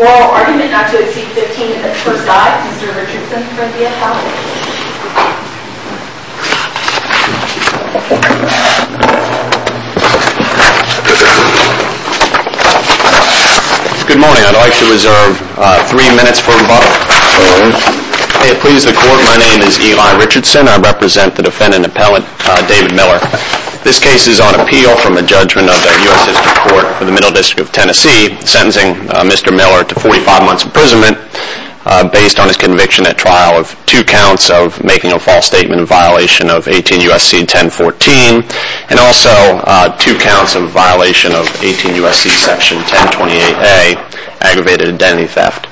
Oral argument not to exceed 15 minutes per slide. Mr. Richardson from the Appellate. Good morning. I'd like to reserve three minutes for rebuttal. My name is Eli Richardson. I represent the defendant, Appellant David Miller. This case is on appeal from a judgment of the U.S. District Court for the Middle District of Tennessee sentencing Mr. Miller to 45 months imprisonment based on his conviction at trial of two counts of making a false statement in violation of 18 U.S.C. 1014 and also two counts of violation of 18 U.S.C. Section 1028A, aggravated identity theft.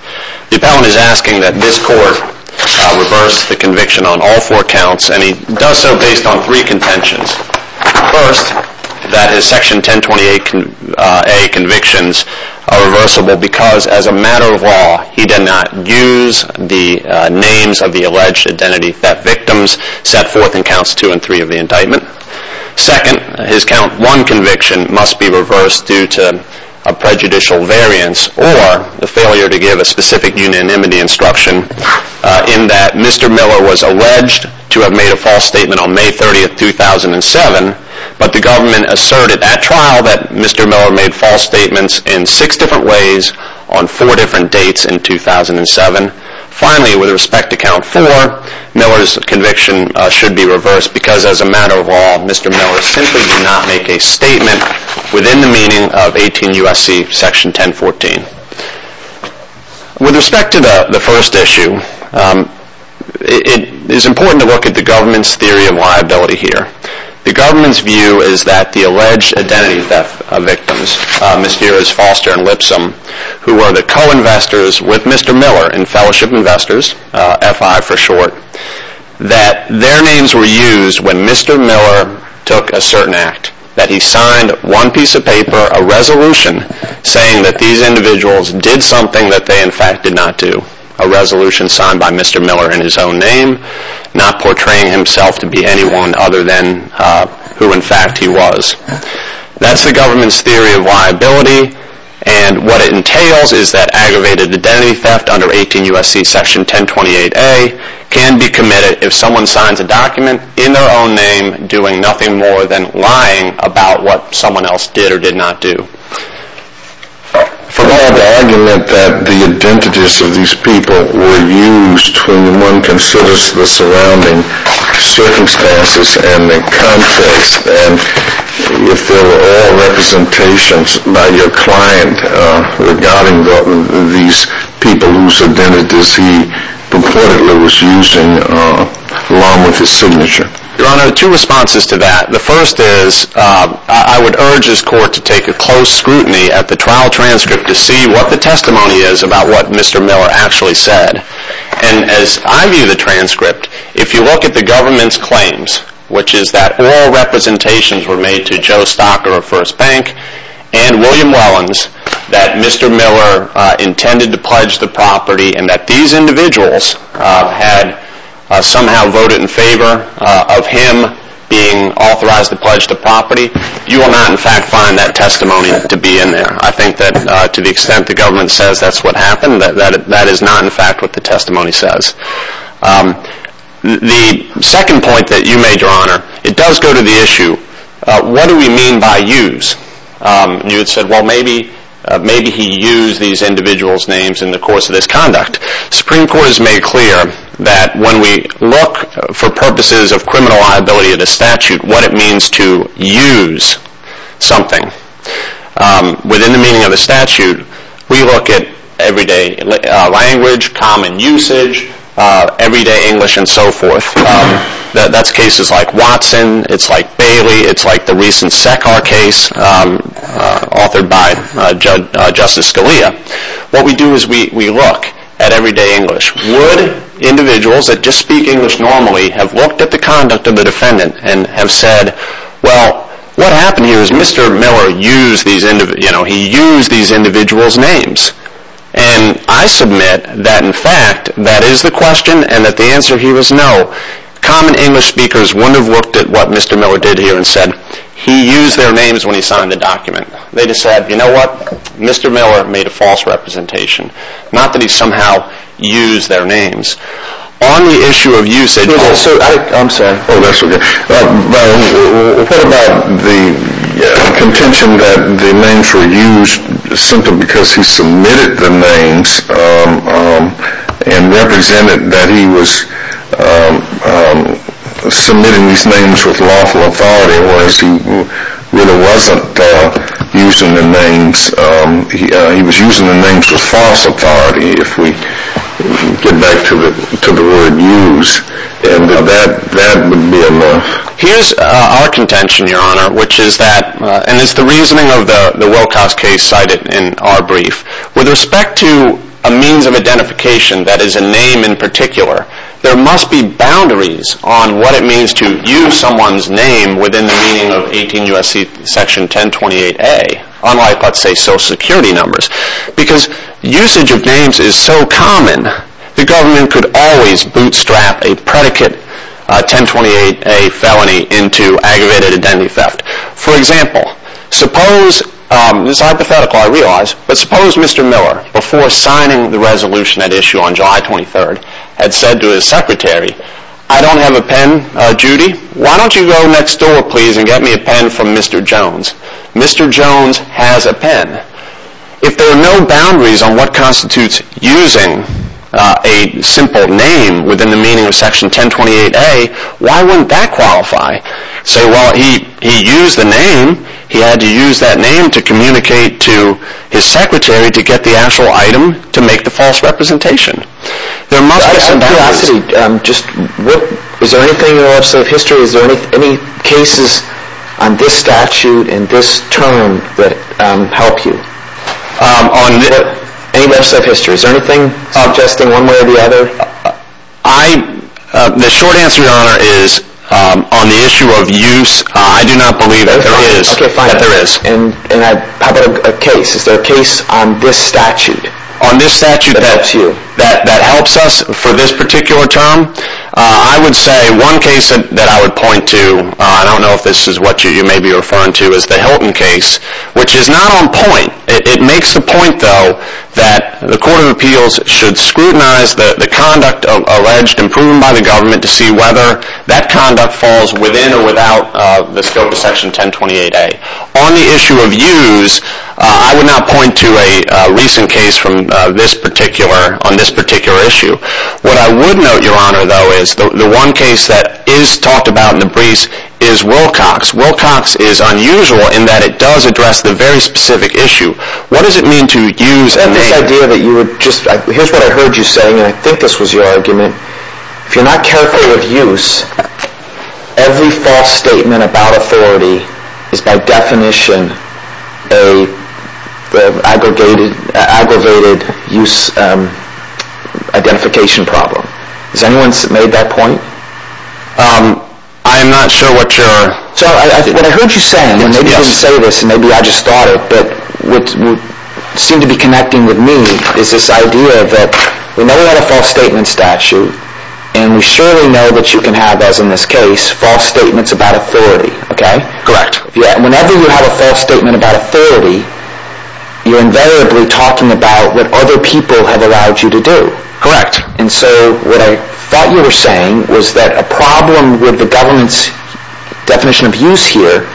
The appellant is asking that this court reverse the conviction on all four counts and he does so based on three contentions. First, that his Section 1028A convictions are reversible because as a matter of law he did not use the names of the alleged identity theft victims set forth in counts two and three of the indictment. Second, his count one conviction must be reversed due to a prejudicial variance or the failure to give a specific unanimity instruction in that Mr. Miller was alleged to have made a false statement on May 30, 2007, but the government asserted at trial that Mr. Miller made false statements in six different ways on four different dates in 2007. Finally, with respect to count four, Miller's conviction should be reversed because as a matter of law Mr. Miller simply did not make a statement within the meaning of 18 U.S.C. Section 1014. With respect to the first issue, it is important to look at the government's theory of liability here. The government's view is that the alleged identity theft victims, Mysterious, Foster, and Lipsom, who were the co-investors with Mr. Miller in Fellowship Investors, FI for short, that their names were used when Mr. Miller took a certain act. That he signed one piece of paper, a resolution, saying that these individuals did something that they in fact did not do. A resolution signed by Mr. Miller in his own name, not portraying himself to be anyone other than who in fact he was. That's the government's theory of liability and what it entails is that aggravated identity theft under 18 U.S.C. Section 1028A can be committed if someone signs a document in their own name doing nothing more than lying about what someone else did or did not do. For my argument that the identities of these people were used when one considers the surrounding circumstances and the context and if there were all representations by your client regarding these people whose identities he purportedly was using along with his signature. Your Honor, two responses to that. The first is I would urge this court to take a close scrutiny at the trial transcript to see what the testimony is about what Mr. Miller actually said. And as I view the transcript, if you look at the government's claims, which is that all representations were made to Joe Stocker of First Bank and William Wellens, that Mr. Miller intended to pledge the property and that these individuals had somehow voted in favor of him being authorized to pledge the property. You will not in fact find that testimony to be in there. I think that to the extent the government says that's what happened, that is not in fact what the testimony says. The second point that you made, Your Honor, it does go to the issue, what do we mean by use? You said well maybe he used these individuals' names in the course of this conduct. The Supreme Court has made clear that when we look for purposes of criminal liability of the statute, what it means to use something. Within the meaning of the statute, we look at everyday language, common usage, everyday English and so forth. That's cases like Watson, it's like Bailey, it's like the recent Sekar case authored by Justice Scalia. What we do is we look at everyday English. Would individuals that just speak English normally have looked at the conduct of the defendant and have said well what happened here is Mr. Miller used these individuals, he used these individuals' names. And I submit that in fact that is the question and that the answer here is no. Common English speakers wouldn't have looked at what Mr. Miller did here and said he used their names when he signed the document. They just said you know what, Mr. Miller made a false representation. Not that he somehow used their names. On the issue of usage... Oh that's okay. We'll talk about the contention that the names were used simply because he submitted the names and represented that he was submitting these names with lawful authority whereas he really wasn't using the names. He was using the names with false authority if we get back to the word use. Here's our contention your honor which is that and it's the reasoning of the Wilcox case cited in our brief. With respect to a means of identification that is a name in particular, there must be boundaries on what it means to use someone's name within the meaning of 18 U.S.C. section 1028A unlike let's say social security numbers. Because usage of names is so common the government could always bootstrap a predicate 1028A felony into aggravated identity theft. For example, suppose, this is hypothetical I realize, but suppose Mr. Miller before signing the resolution that issue on July 23rd had said to his secretary, I don't have a pen Judy, why don't you go next door please and get me a pen from Mr. Jones. Mr. Jones has a pen. If there are no boundaries on what constitutes using a simple name within the meaning of section 1028A, why wouldn't that qualify? So while he used the name, he had to use that name to communicate to his secretary to get the actual item to make the false representation. I have a curiosity, is there anything in the legislative history, is there any cases on this statute and this term that help you? Any legislative history, is there anything suggesting one way or the other? The short answer your honor is on the issue of use, I do not believe that there is. How about a case, is there a case on this statute that helps you? I would say one case that I would point to, I don't know if this is what you may be referring to as the Hilton case, which is not on point. It makes the point though that the court of appeals should scrutinize the conduct alleged and proven by the government to see whether that conduct falls within or without the scope of section 1028A. On the issue of use, I would not point to a recent case on this particular issue. What I would note your honor though is the one case that is talked about in the briefs is Wilcox. Wilcox is unusual in that it does address the very specific issue. What does it mean to use a name? Here is what I heard you saying and I think this was your argument. If you are not careful with use, every false statement about authority is by definition an aggravated use identification problem. Has anyone made that point? I am not sure what your... What I heard you saying, maybe you didn't say this and maybe I just thought it, but what seemed to be connecting with me is this idea that we know we have a false statement statute and we surely know that you can have as in this case false statements about authority. Correct. Whenever you have a false statement about authority, you are invariably talking about what other people have allowed you to do. Correct. And so what I thought you were saying was that a problem with the government's definition of use here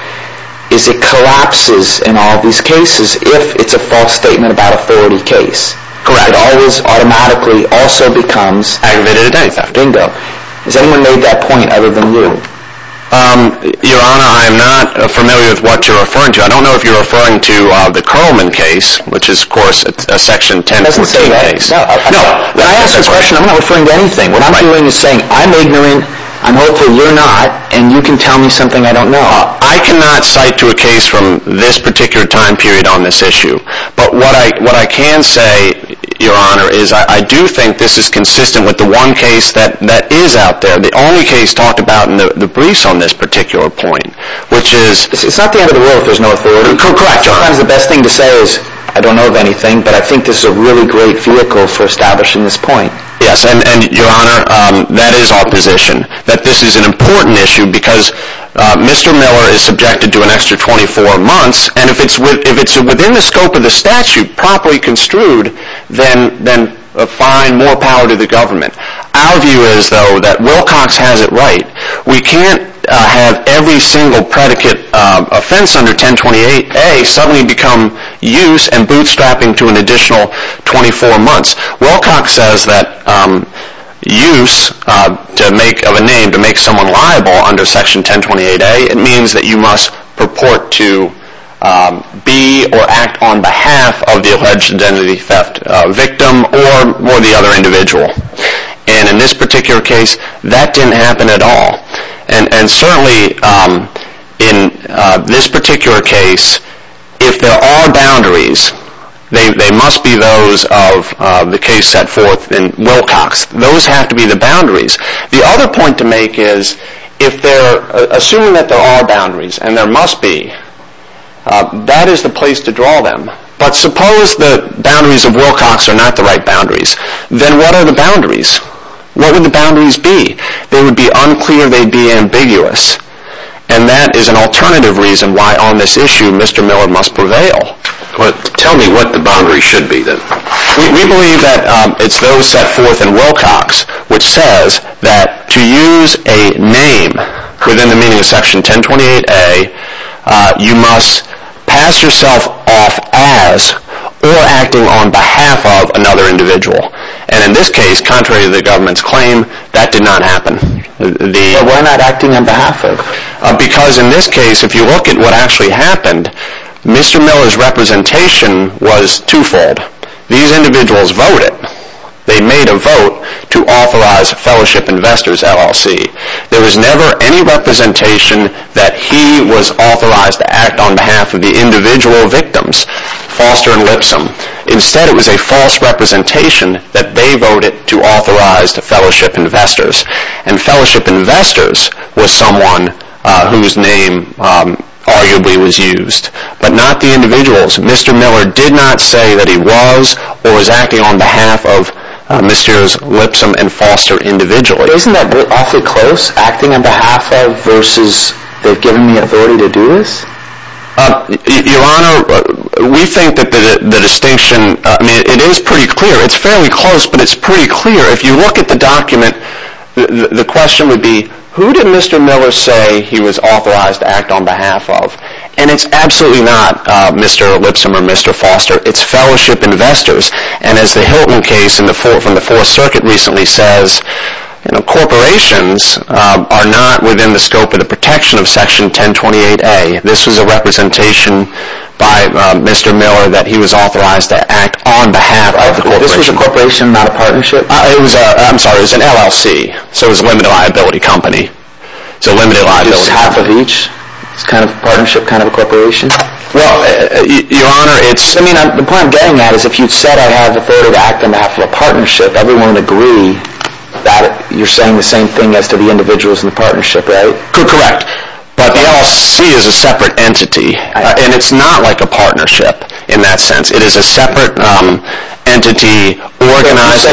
is it collapses in all these cases if it is a false statement about authority case. Correct. It always automatically also becomes... Aggravated offense. Bingo. Has anyone made that point other than you? Your honor, I am not familiar with what you are referring to. I don't know if you are referring to the Curlman case, which is of course a section 1014 case. It doesn't say that. When I ask a question, I am not referring to anything. What I am doing is saying I am ignorant, I am hopeful you are not, and you can tell me something I don't know. I cannot cite to a case from this particular time period on this issue, but what I can say, your honor, is I do think this is consistent with the one case that is out there, the only case talked about in the briefs on this particular point, which is... It is not the end of the world if there is no authority. Correct. Sometimes the best thing to say is I don't know of anything, but I think this is a really great vehicle for establishing this point. Yes, and your honor, that is our position, that this is an important issue because Mr. Miller is subjected to an extra 24 months, and if it is within the scope of the statute properly construed, then fine, more power to the government. Our view is though that Wilcox has it right. We can't have every single predicate offense under 1028A suddenly become use and bootstrapping to an additional 24 months. Wilcox says that use of a name to make someone liable under section 1028A means that you must purport to be or act on behalf of the alleged identity theft victim or the other individual. And in this particular case, that didn't happen at all. And certainly in this particular case, if there are boundaries, they must be those of the case set forth in Wilcox. Those have to be the boundaries. The other point to make is if they're assuming that there are boundaries, and there must be, that is the place to draw them. But suppose the boundaries of Wilcox are not the right boundaries, then what are the boundaries? What would the boundaries be? They would be unclear, they'd be ambiguous, and that is an alternative reason why on this issue Mr. Miller must prevail. Tell me what the boundaries should be then. We believe that it's those set forth in Wilcox which says that to use a name within the meaning of section 1028A, you must pass yourself off as or acting on behalf of another individual. And in this case, contrary to the government's claim, that did not happen. But why not acting on behalf of? Because in this case, if you look at what actually happened, Mr. Miller's representation was twofold. These individuals voted. They made a vote to authorize Fellowship Investors, LLC. There was never any representation that he was authorized to act on behalf of the individual victims, Foster and Lipsom. Instead, it was a false representation that they voted to authorize Fellowship Investors. And Fellowship Investors was someone whose name arguably was used. But not the individuals. Mr. Miller did not say that he was or was acting on behalf of Mr. Lipsom and Foster individually. Isn't that vote awfully close? Acting on behalf of versus they've given me authority to do this? Your Honor, we think that the distinction is pretty clear. It's fairly close, but it's pretty clear. If you look at the document, the question would be, who did Mr. Miller say he was authorized to act on behalf of? And it's absolutely not Mr. Lipsom or Mr. Foster. It's Fellowship Investors. And as the Hilton case from the Fourth Circuit recently says, corporations are not within the scope of the protection of Section 1028A. This was a representation by Mr. Miller that he was authorized to act on behalf of the corporation. This was a corporation, not a partnership? I'm sorry, it was an LLC. So it was a limited liability company. It's half of each? It's kind of a partnership, kind of a corporation? Well, Your Honor, the point I'm getting at is if you said I have authority to act on behalf of a partnership, everyone would agree that you're saying the same thing as to the individuals in the partnership, right? Correct. But the LLC is a separate entity. And it's not like a partnership in that sense. It is a separate entity organized.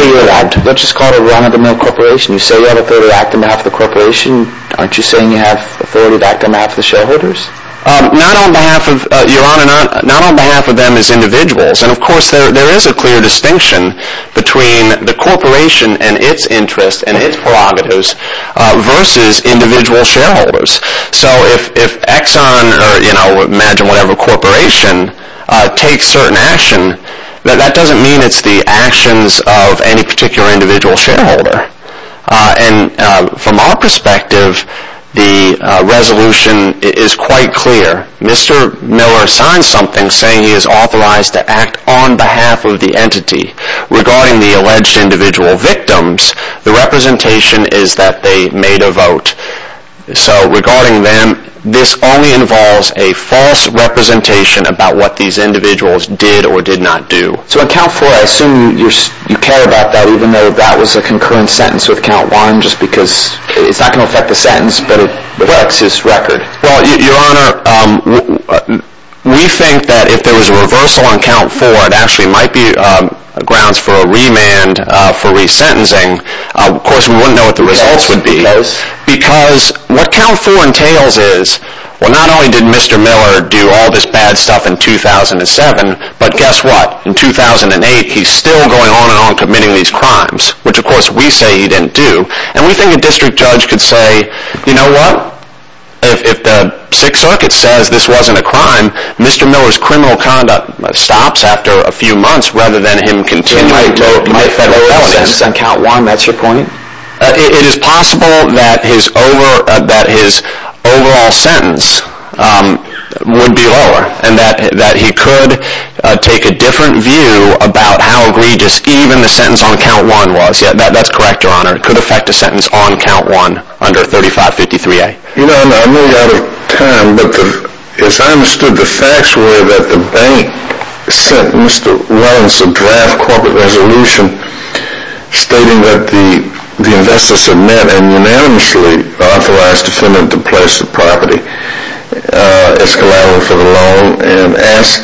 Let's just call it a run-of-the-mill corporation. You say you have authority to act on behalf of the corporation. Aren't you saying you have authority to act on behalf of the shareholders? Your Honor, not on behalf of them as individuals. And of course there is a clear distinction between the corporation and its interests and its prerogatives versus individual shareholders. So if Exxon or imagine whatever corporation takes certain action, that doesn't mean it's the actions of any particular individual shareholder. And from our perspective, the resolution is quite clear. Mr. Miller signed something saying he is authorized to act on behalf of the entity. Regarding the alleged individual victims, the representation is that they made a vote. So regarding them, this only involves a false representation about what these individuals did or did not do. So on count four, I assume you care about that even though that was a concurrent sentence with count one just because it's not going to affect the sentence but it affects his record. Your Honor, we think that if there was a reversal on count four, it actually might be grounds for a remand for resentencing. Of course we wouldn't know what the results would be. Because what count four entails is, well not only did Mr. Miller do all this bad stuff in 2007, but guess what? In 2008, he's still going on and on committing these crimes. Which of course we say he didn't do. And we think a district judge could say, you know what? If the Sixth Circuit says this wasn't a crime, Mr. Miller's criminal conduct stops after a few months rather than him continuing to commit federal felonies. It is possible that his overall sentence would be lower and that he could take a different view about how egregious even the sentence on count one was. That's correct, Your Honor. It could affect a sentence on count one under 3553A. Your Honor, I'm running out of time, but as I understood the facts were that the bank sent Mr. Wellens a draft corporate resolution stating that the investors had met and unanimously authorized the defendant to place the property as collateral for the loan and asked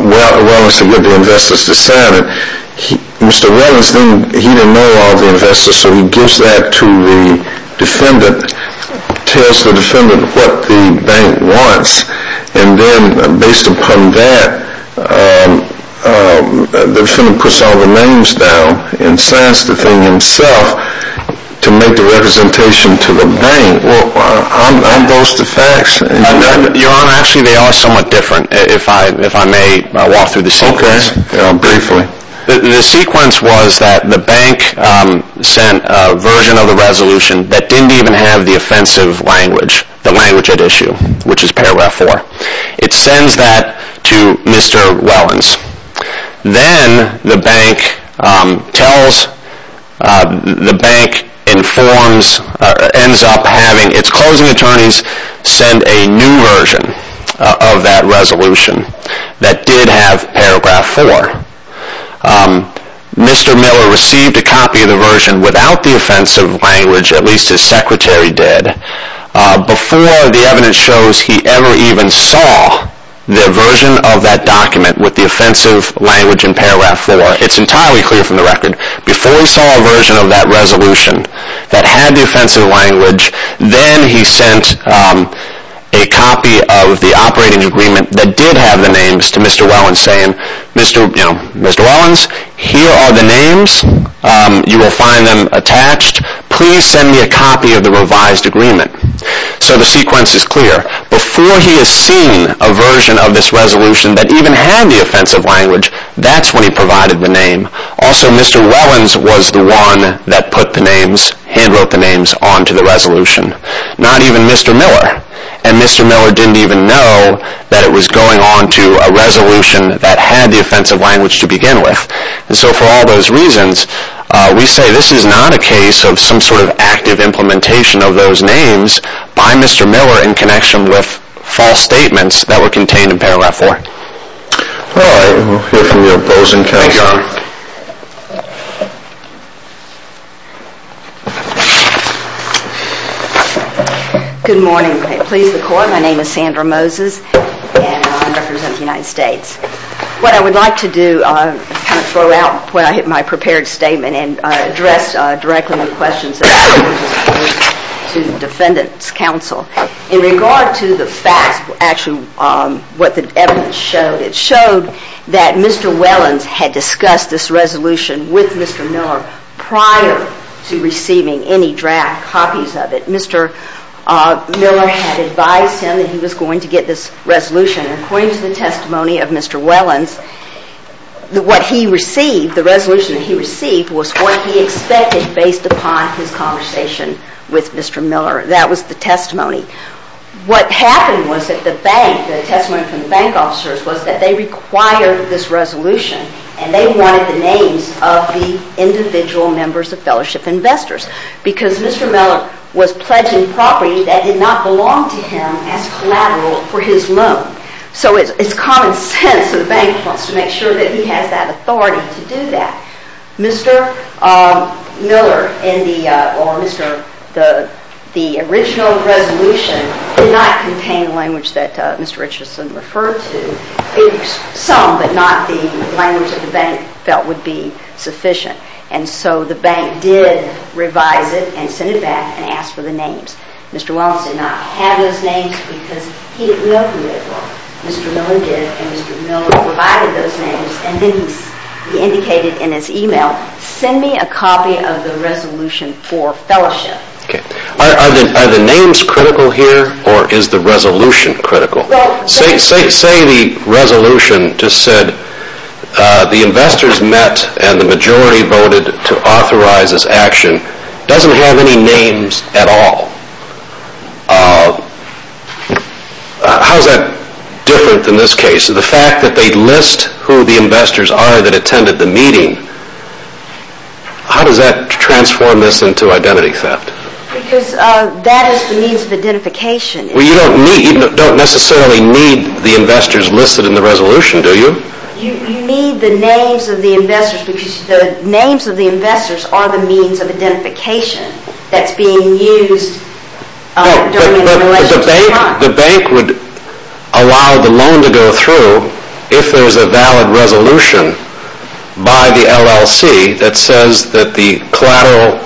Wellens to get the investors to sign it. Mr. Wellens, he didn't know all the investors, so he gives that to the defendant, tells the defendant what the bank wants, and then based upon that, the defendant puts all the names down and signs the thing himself to make the representation to the bank. Aren't those the facts? Your Honor, actually they are somewhat different. If I may walk through the sequence. Okay. Briefly. The sequence was that the bank sent a version of the resolution that didn't even have the offensive language, the language at issue, which is paragraph four. It sends that to Mr. Wellens. Then the bank tells, the bank informs, ends up having its closing attorneys send a new version of that resolution that did have paragraph four. Mr. Miller received a copy of the version without the offensive language, at least his secretary did, before the evidence shows he ever even saw the version of that document with the offensive language in paragraph four. It's entirely clear from the record. Before he saw a version of that resolution that had the offensive language, then he sent a copy of the operating agreement that did have the names to Mr. Wellens saying, Mr. Wellens, here are the names. You will find them attached. Please send me a copy of the revised agreement. So the sequence is clear. Before he has seen a version of this resolution that even had the offensive language, that's when he provided the name. Also, Mr. Wellens was the one that put the names, hand wrote the names, onto the resolution. Not even Mr. Miller. And Mr. Miller didn't even know that it was going onto a resolution that had the offensive language to begin with. And so for all those reasons, we say this is not a case of some sort of active implementation of those names by Mr. Miller in connection with false statements that were contained in paragraph four. All right. We'll hear from the opposing counsel. Good morning. Please record. My name is Sandra Moses, and I represent the United States. What I would like to do is kind of throw out my prepared statement and address directly the questions that I just posed to the Defendant's Counsel. In regard to the facts, actually what the evidence showed, it showed that Mr. Wellens had discussed this resolution with Mr. Miller prior to receiving any draft copies of it. Mr. Miller had advised him that he was going to get this resolution. According to the testimony of Mr. Wellens, what he received, the resolution that he received, was what he expected based upon his conversation with Mr. Miller. That was the testimony. What happened was that the bank, the testimony from the bank officers, was that they required this resolution and they wanted the names of the individual members of Fellowship Investors because Mr. Miller was pledging property that did not belong to him as collateral for his loan. So it's common sense that the bank wants to make sure that he has that authority to do that. Mr. Miller, in the original resolution, did not contain the language that Mr. Richardson referred to. Some, but not the language that the bank felt would be sufficient. And so the bank did revise it and send it back and ask for the names. Mr. Wellens did not have those names because he didn't know who they were. Mr. Miller did and Mr. Miller provided those names and then he indicated in his email, send me a copy of the resolution for Fellowship. Are the names critical here or is the resolution critical? Say the resolution just said the investors met and the majority voted to authorize this action. It doesn't have any names at all. How is that different than this case? The fact that they list who the investors are that attended the meeting, how does that transform this into identity theft? Because that is the means of identification. You don't necessarily need the investors listed in the resolution, do you? You need the names of the investors because the names of the investors are the means of identification that's being used. But the bank would allow the loan to go through if there's a valid resolution by the LLC that says that the collateral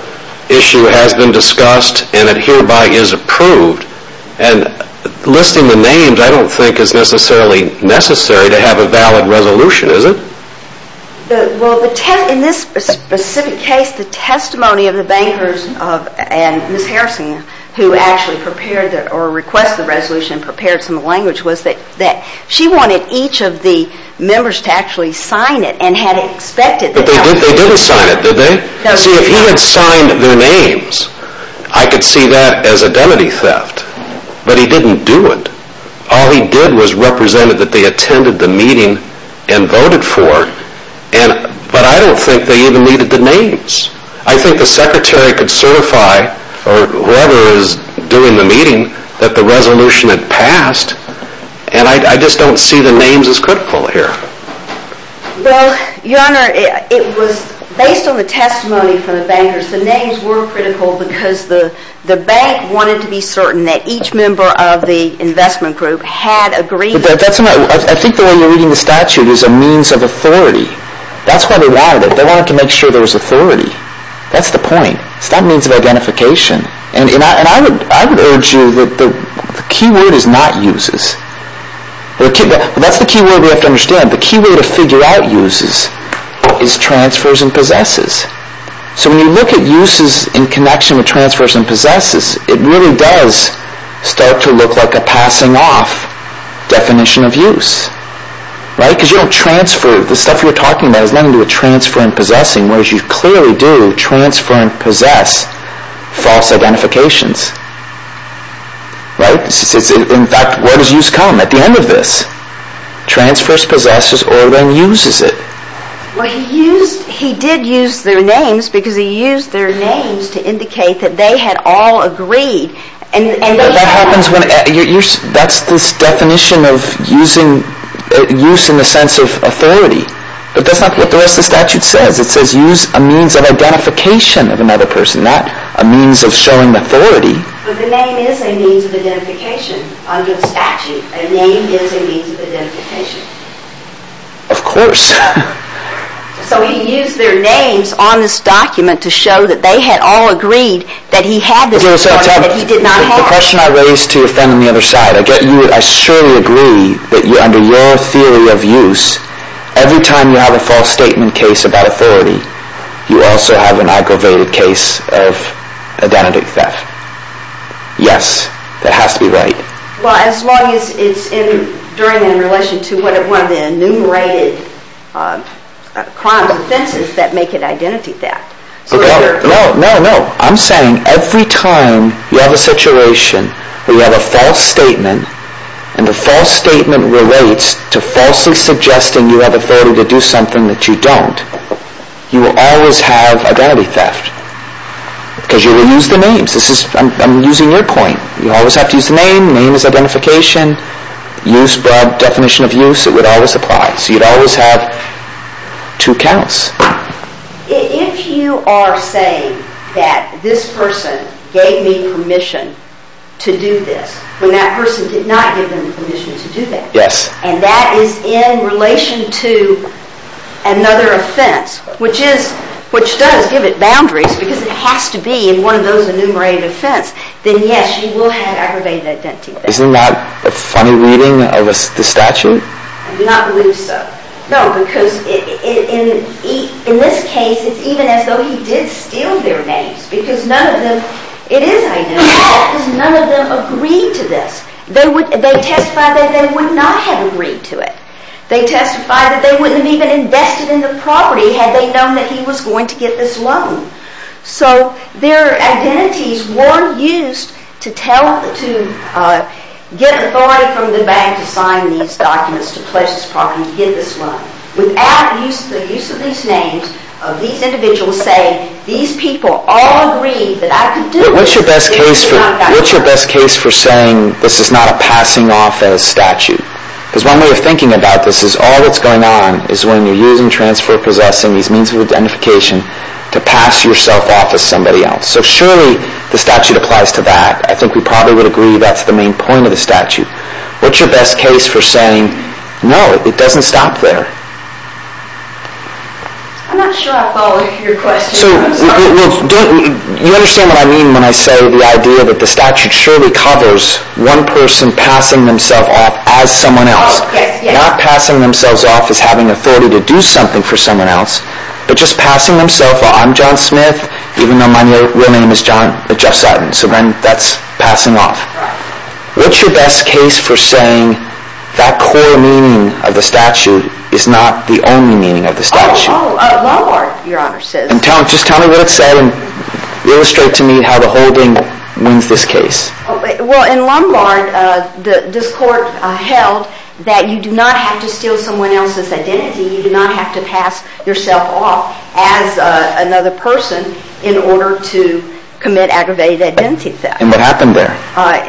issue has been discussed and it hereby is approved. And listing the names I don't think is necessarily necessary to have a valid resolution, is it? Well, in this specific case, the testimony of the bankers and Ms. Harrison who actually prepared or requested the resolution and prepared some language was that she wanted each of the members to actually sign it and had expected that. They didn't sign it, did they? See, if he had signed their names, I could see that as identity theft. But he didn't do it. All he did was represent that they attended the meeting and voted for it. But I don't think they even needed the names. I think the secretary could certify or whoever is doing the meeting that the resolution had passed and I just don't see the names as critical here. Well, Your Honor, it was based on the testimony from the bankers. The names were critical because the bank wanted to be certain that each member of the investment group had agreed. I think the way you're reading the statute is a means of authority. That's why they wanted it. They wanted to make sure there was authority. That's the point. It's not a means of identification. And I would urge you that the key word is not uses. That's the key word we have to understand. The key word of figure out uses is transfers and possesses. So when you look at uses in connection with transfers and possesses, it really does start to look like a passing off definition of use. Right? Because you don't transfer. The stuff you're talking about is nothing to do with transfer and possessing, whereas you clearly do transfer and possess false identifications. Right? In fact, where does use come at the end of this? Transfers, possesses, or then uses it. Well, he did use their names because he used their names to indicate that they had all agreed. That's this definition of use in the sense of authority. But that's not what the rest of the statute says. It says use a means of identification of another person, not a means of showing authority. But the name is a means of identification under the statute. A name is a means of identification. Of course. So he used their names on this document to show that they had all agreed that he had this authority that he did not have. The question I raised to offend on the other side, I get you, I surely agree that under your theory of use, every time you have a false statement case about authority, you also have an aggravated case of identity theft. Yes, that has to be right. Well, as long as it's during and in relation to one of the enumerated crimes offenses that make it identity theft. No, no, no. I'm saying every time you have a situation where you have a false statement and the false statement relates to falsely suggesting you have authority to do something that you don't, you will always have identity theft. Because you will use the names. This is, I'm using your point. You always have to use the name. Name is identification. Use, broad definition of use, it would always apply. So you'd always have two counts. If you are saying that this person gave me permission to do this, when that person did not give them permission to do that, and that is in relation to another offense, which does give it boundaries because it has to be in one of those enumerated offense, then yes, you will have aggravated identity theft. Isn't that a funny reading of the statute? I do not believe so. No, because in this case, it's even as though he did steal their names because none of them, it is identity theft because none of them agreed to this. They testified that they would not have agreed to it. They testified that they wouldn't have even invested in the property had they known that he was going to get this loan. So their identities weren't used to tell, to get authority from the bank to sign these documents, to pledge this property, to get this loan. Without the use of these names, these individuals say, these people all agreed that I could do it. But what's your best case for saying this is not a passing off as statute? Because one way of thinking about this is all that's going on is when you're using transfer of possessing, these means of identification, to pass yourself off as somebody else. So surely the statute applies to that. I think we probably would agree that's the main point of the statute. What's your best case for saying, no, it doesn't stop there? I'm not sure I follow your question. So, you understand what I mean when I say the idea that the statute surely covers one person passing themselves off as someone else. Not passing themselves off as having authority to do something for someone else, but just passing themselves off, I'm John Smith, even though my real name is John, Jeff Sutton, so then that's passing off. What's your best case for saying that core meaning of the statute is not the only meaning of the statute? Oh, Lombard, Your Honor, says. Just tell me what it said and illustrate to me how the holding wins this case. Well, in Lombard, this court held that you do not have to steal someone else's identity. You do not have to pass yourself off as another person in order to commit aggravated identity theft. And what happened there?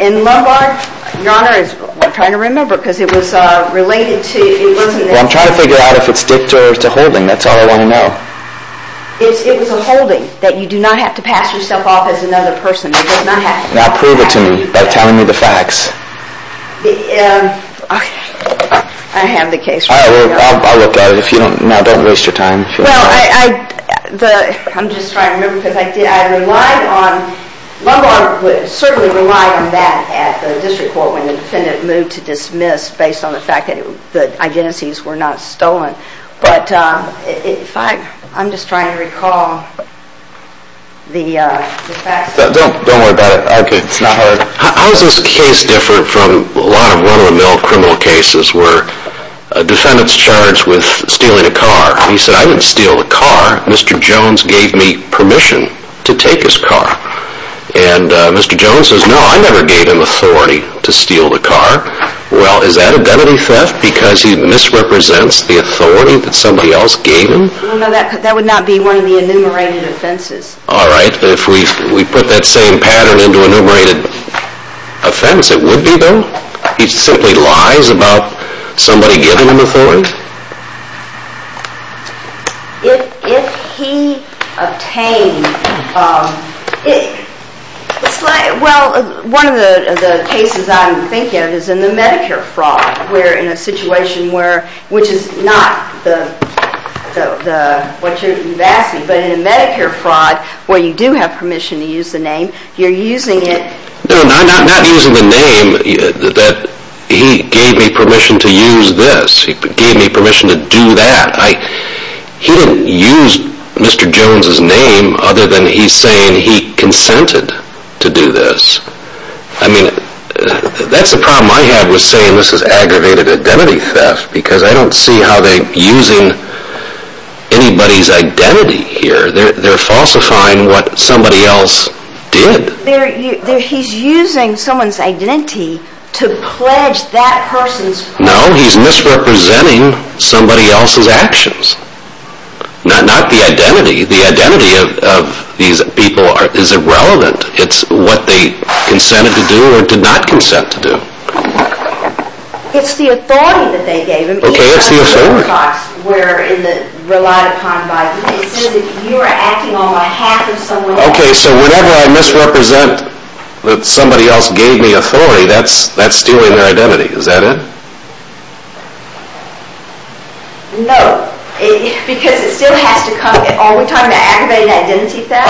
In Lombard, Your Honor, I'm trying to remember because it was related to... Well, I'm trying to figure out if it's dicta or holding. That's all I want to know. It was a holding, that you do not have to pass yourself off as another person. Now prove it to me by telling me the facts. Okay, I have the case. I'll look at it. Now don't waste your time. Well, I'm just trying to remember because I relied on... Lombard would certainly rely on that at the district court when the defendant moved to dismiss based on the fact that the identities were not stolen. But, in fact, I'm just trying to recall the facts. Don't worry about it. Okay, it's not hard. How is this case different from a lot of run-of-the-mill criminal cases where a defendant's charged with stealing a car? He said, I didn't steal the car. Mr. Jones gave me permission to take his car. And Mr. Jones says, no, I never gave him authority to steal the car. Well, is that identity theft because he misrepresents the authority that somebody else gave him? No, that would not be one of the enumerated offenses. All right. If we put that same pattern into enumerated offense, it would be, though? He simply lies about somebody giving him authority? No. If he obtained... Well, one of the cases I'm thinking of is in the Medicare fraud where in a situation where, which is not what you're asking, but in a Medicare fraud where you do have permission to use the name, you're using it... No, I'm not using the name that he gave me permission to use this. He gave me permission to do that. He didn't use Mr. Jones' name other than he's saying he consented to do this. I mean, that's the problem I have with saying this is aggravated identity theft because I don't see how they're using anybody's identity here. They're falsifying what somebody else did. He's using someone's identity to pledge that person's... No, he's misrepresenting somebody else's actions. Not the identity. The identity of these people is irrelevant. It's what they consented to do or did not consent to do. It's the authority that they gave him... Okay, it's the authority. ...where in the relied upon by... It's as if you were acting on behalf of someone else. Okay, so whenever I misrepresent that somebody else gave me authority, that's stealing their identity. Is that it? No, because it still has to come... Are we talking about aggravated identity theft?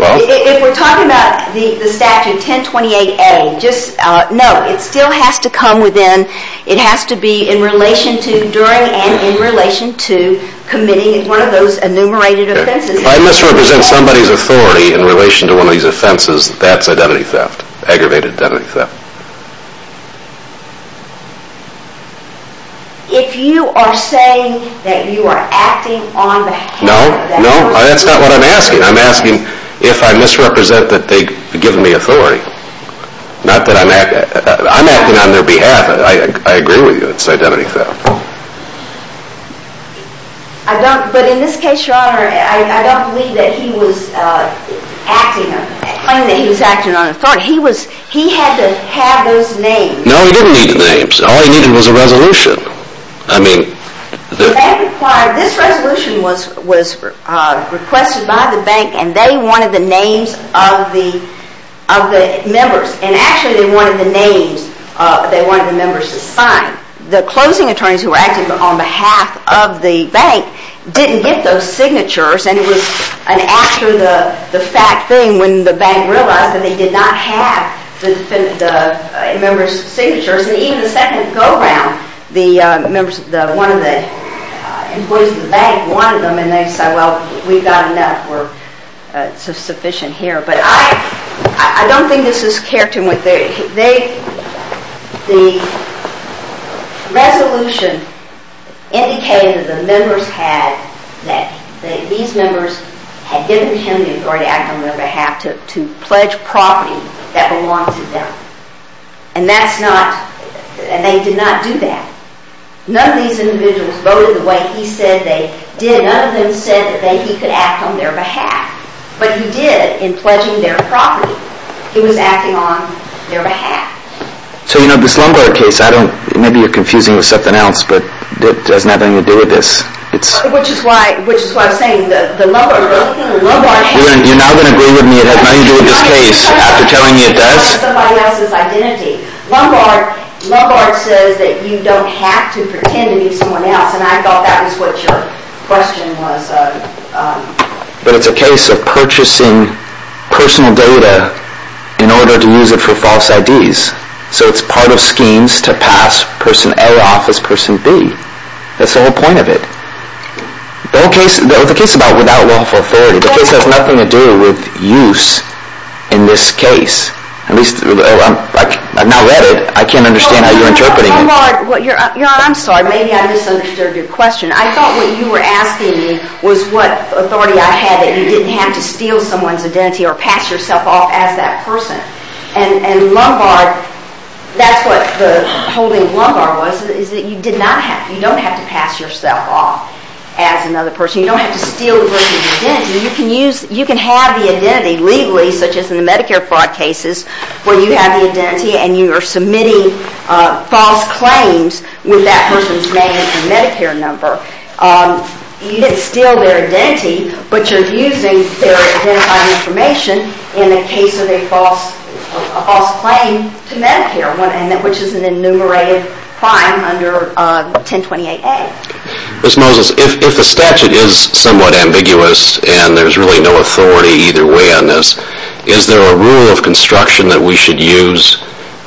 Well... If we're talking about the statute 1028A, just... No, it still has to come within, it has to be in relation to, during and in relation to committing one of those enumerated offenses. If I misrepresent somebody's authority in relation to one of these offenses, that's identity theft, aggravated identity theft. If you are saying that you are acting on behalf... No, no, that's not what I'm asking. I'm asking if I misrepresent that they've given me authority. Not that I'm acting... I'm acting on their behalf. I agree with you, it's identity theft. I don't, but in this case, Your Honor, I don't believe that he was acting, claiming that he was acting on authority. He was, he had to have those names. No, he didn't need the names. All he needed was a resolution. I mean... That required, this resolution was requested by the bank and they wanted the names of the members. And actually they wanted the names, they wanted the members to sign. The closing attorneys who were acting on behalf of the bank didn't get those signatures. And it was an after the fact thing when the bank realized that they did not have the members' signatures. And even the second go-round, the members, one of the employees of the bank wanted them and they said, well, we've got enough. We're sufficient here. But I don't think this is characteristic. The resolution indicated that the members had, that these members had given him the authority to act on their behalf to pledge property that belonged to them. And that's not, and they did not do that. None of these individuals voted the way he said they did. None of them said that he could act on their behalf. But he did in pledging their property. He was acting on their behalf. So, you know, this Lombard case, I don't, maybe you're confusing it with something else, but it has nothing to do with this. Which is why I'm saying the Lombard case. You're now going to agree with me it has nothing to do with this case after telling me it does? It's somebody else's identity. Lombard says that you don't have to pretend to be someone else. And I thought that was what your question was. But it's a case of purchasing personal data in order to use it for false IDs. So it's part of schemes to pass person A off as person B. That's the whole point of it. The whole case, the case about without lawful authority, the case has nothing to do with use in this case. At least, I've now read it, I can't understand how you're interpreting it. Lombard, I'm sorry, maybe I misunderstood your question. I thought what you were asking me was what authority I had that you didn't have to steal someone's identity or pass yourself off as that person. And Lombard, that's what the holding of Lombard was, is that you don't have to pass yourself off as another person. You don't have to steal the person's identity. You can have the identity legally, such as in the Medicare fraud cases, where you have the identity and you are submitting false claims with that person's name and Medicare number. You didn't steal their identity, but you're using their identifying information in the case of a false claim to Medicare, which is an enumerated crime under 1028A. Ms. Moses, if the statute is somewhat ambiguous and there's really no authority either way on this,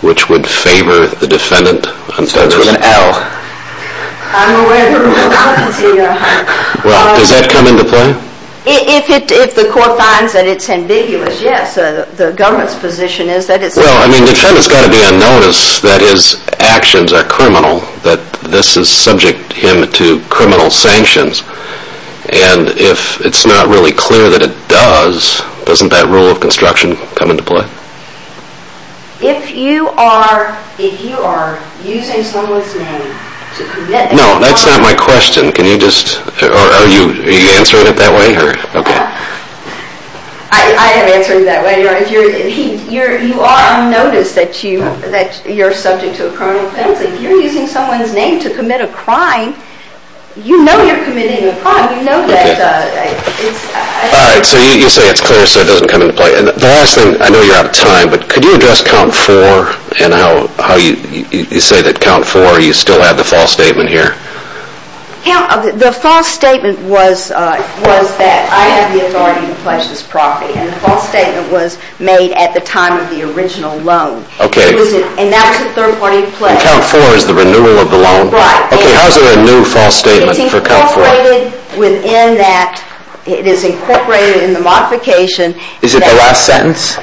which would favor the defendant? I'm sorry, there's an L. I'm aware of the rule of competency, Your Honor. Does that come into play? If the court finds that it's ambiguous, yes. The government's position is that it's ambiguous. Well, I mean, the defendant's got to be on notice that his actions are criminal, that this is subject him to criminal sanctions. And if it's not really clear that it does, doesn't that rule of construction come into play? If you are using someone's name to commit a crime... No, that's not my question. Are you answering it that way? I am answering it that way, Your Honor. You are on notice that you're subject to a criminal penalty. If you're using someone's name to commit a crime, you know you're committing a crime. You know that it's... All right, so you say it's clear so it doesn't come into play. And the last thing, I know you're out of time, but could you address count four and how you say that count four, you still have the false statement here? The false statement was that I have the authority to pledge this property. And the false statement was made at the time of the original loan. And that was the third party pledge. And count four is the renewal of the loan? Right. Okay, how is it a new false statement for count four? It's incorporated within that... It is incorporated in the modification... Is it the last sentence?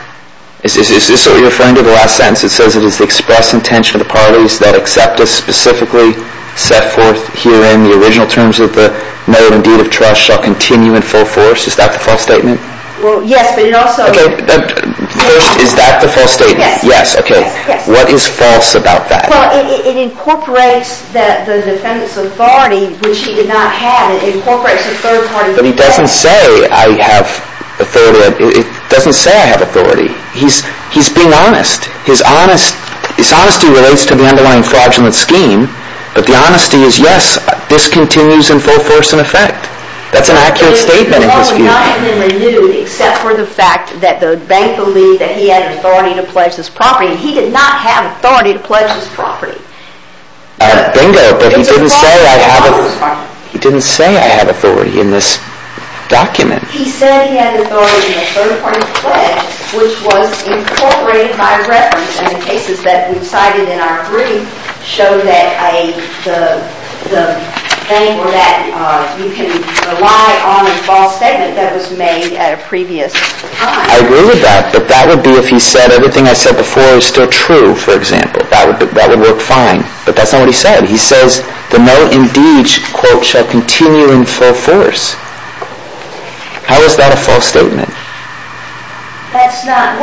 Is this what you're referring to, the last sentence? It says it is the express intention of the parties that accept a specifically set forth herein the original terms of the note and deed of trust shall continue in full force. Is that the false statement? Well, yes, but it also... First, is that the false statement? Yes. Yes, okay. What is false about that? Well, it incorporates the defendant's authority, which he did not have. It incorporates the third party... But he doesn't say I have authority. It doesn't say I have authority. He's being honest. His honesty relates to the underlying fraudulent scheme, but the honesty is, yes, this continues in full force in effect. That's an accurate statement in his view. It was not even renewed except for the fact that the bank believed that he had authority to pledge this property. He did not have authority to pledge this property. Bingo, but he didn't say I have authority. He said he had authority in the third party pledge, which was incorporated by reference, and the cases that we've cited in our brief show that the bank or that you can rely on a false statement that was made at a previous time. I agree with that, but that would be if he said everything I said before is still true, for example. That would work fine, but that's not what he said. He says the note indeed, quote, shall continue in full force. How is that a false statement? That's not...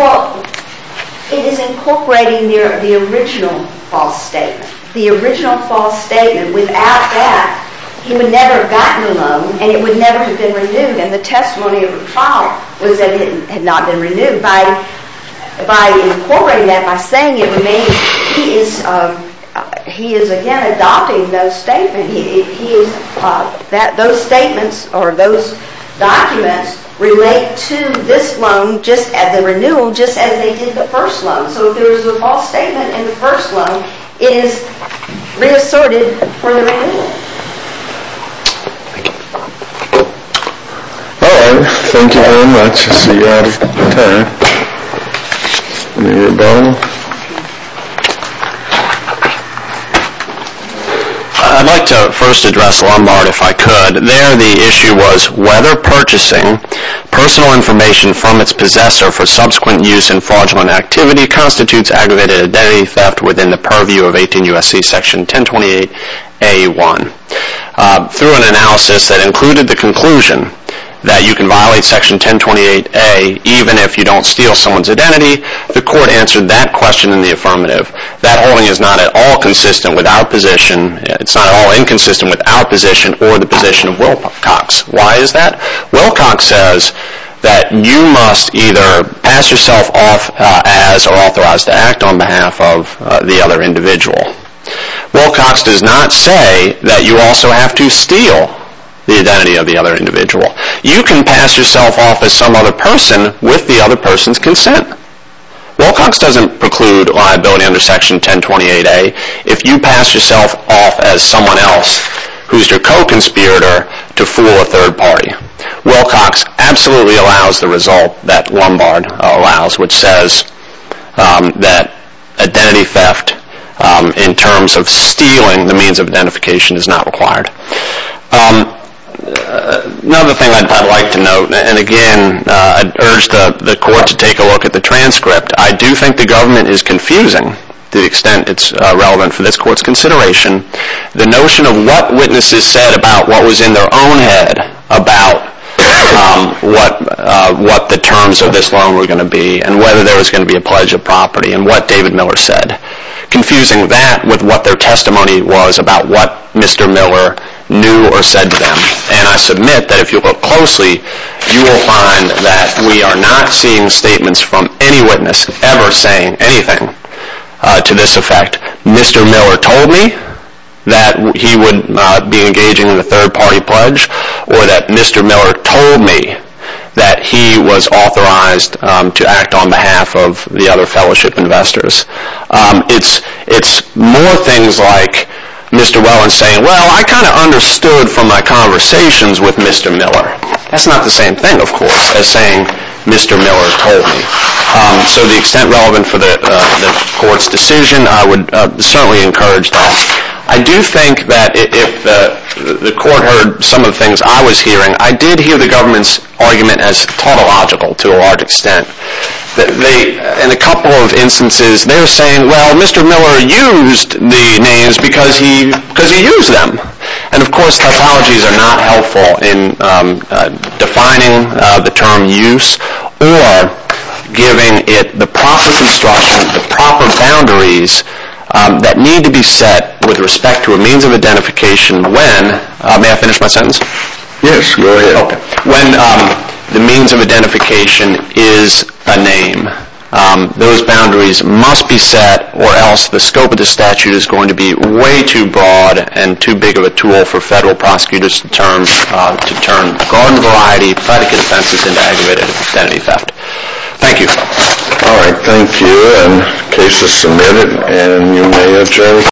It is incorporating the original false statement. The original false statement, without that, he would never have gotten the loan, and it would never have been renewed, and the testimony of the trial was that it had not been renewed. By incorporating that, by saying it, he is again adopting those statements. Those statements or those documents relate to this loan, just as the renewal, just as they did the first loan. So if there is a false statement in the first loan, it is reassorted for the renewal. All right, thank you very much. I see you're out of time. You're done? I'd like to first address Lombard, if I could. There the issue was whether purchasing personal information from its possessor for subsequent use in fraudulent activity constitutes aggravated identity theft within the purview of 18 U.S.C. Section 1028A1. Through an analysis that included the conclusion that you can violate Section 1028A even if you don't steal someone's identity, the court answered that question in the affirmative. That holding is not at all consistent with our position. It's not at all inconsistent with our position or the position of Wilcox. Why is that? Wilcox says that you must either pass yourself off as or authorized to act on behalf of the other individual. Wilcox does not say that you also have to steal the identity of the other individual. You can pass yourself off as some other person with the other person's consent. Wilcox doesn't preclude liability under Section 1028A if you pass yourself off as someone else who's your co-conspirator to fool a third party. Wilcox absolutely allows the result that Lombard allows, which says that identity theft in terms of stealing the means of identification is not required. Another thing I'd like to note, and again, I'd urge the court to take a look at the transcript. I do think the government is confusing, to the extent it's relevant for this court's consideration, the notion of what witnesses said about what was in their own head about what the terms of this loan were going to be and whether there was going to be a pledge of property and what David Miller said. Confusing that with what their testimony was about what Mr. Miller knew or said to them. And I submit that if you look closely, you will find that we are not seeing statements from any witness ever saying anything to this effect. Mr. Miller told me that he would be engaging in a third party pledge, or that Mr. Miller told me that he was authorized to act on behalf of the other fellowship investors. It's more things like Mr. Welland saying, well, I kind of understood from my conversations with Mr. Miller. That's not the same thing, of course, as saying Mr. Miller told me. So the extent relevant for the court's decision, I would certainly encourage that. I do think that if the court heard some of the things I was hearing, I did hear the government's argument as tautological to a large extent. In a couple of instances, they're saying, well, Mr. Miller used the names because he used them. And of course, tautologies are not helpful in defining the term use or giving it the proper construction, the proper boundaries that need to be set with respect to a means of identification when, may I finish my sentence? Yes, go ahead. When the means of identification is a name, those boundaries must be set or else the scope of the statute is going to be way too broad and too big of a tool for federal prosecutors to turn garden variety, political defenses into aggravated identity theft. Thank you. All right, thank you. And the case is submitted. And you may adjourn.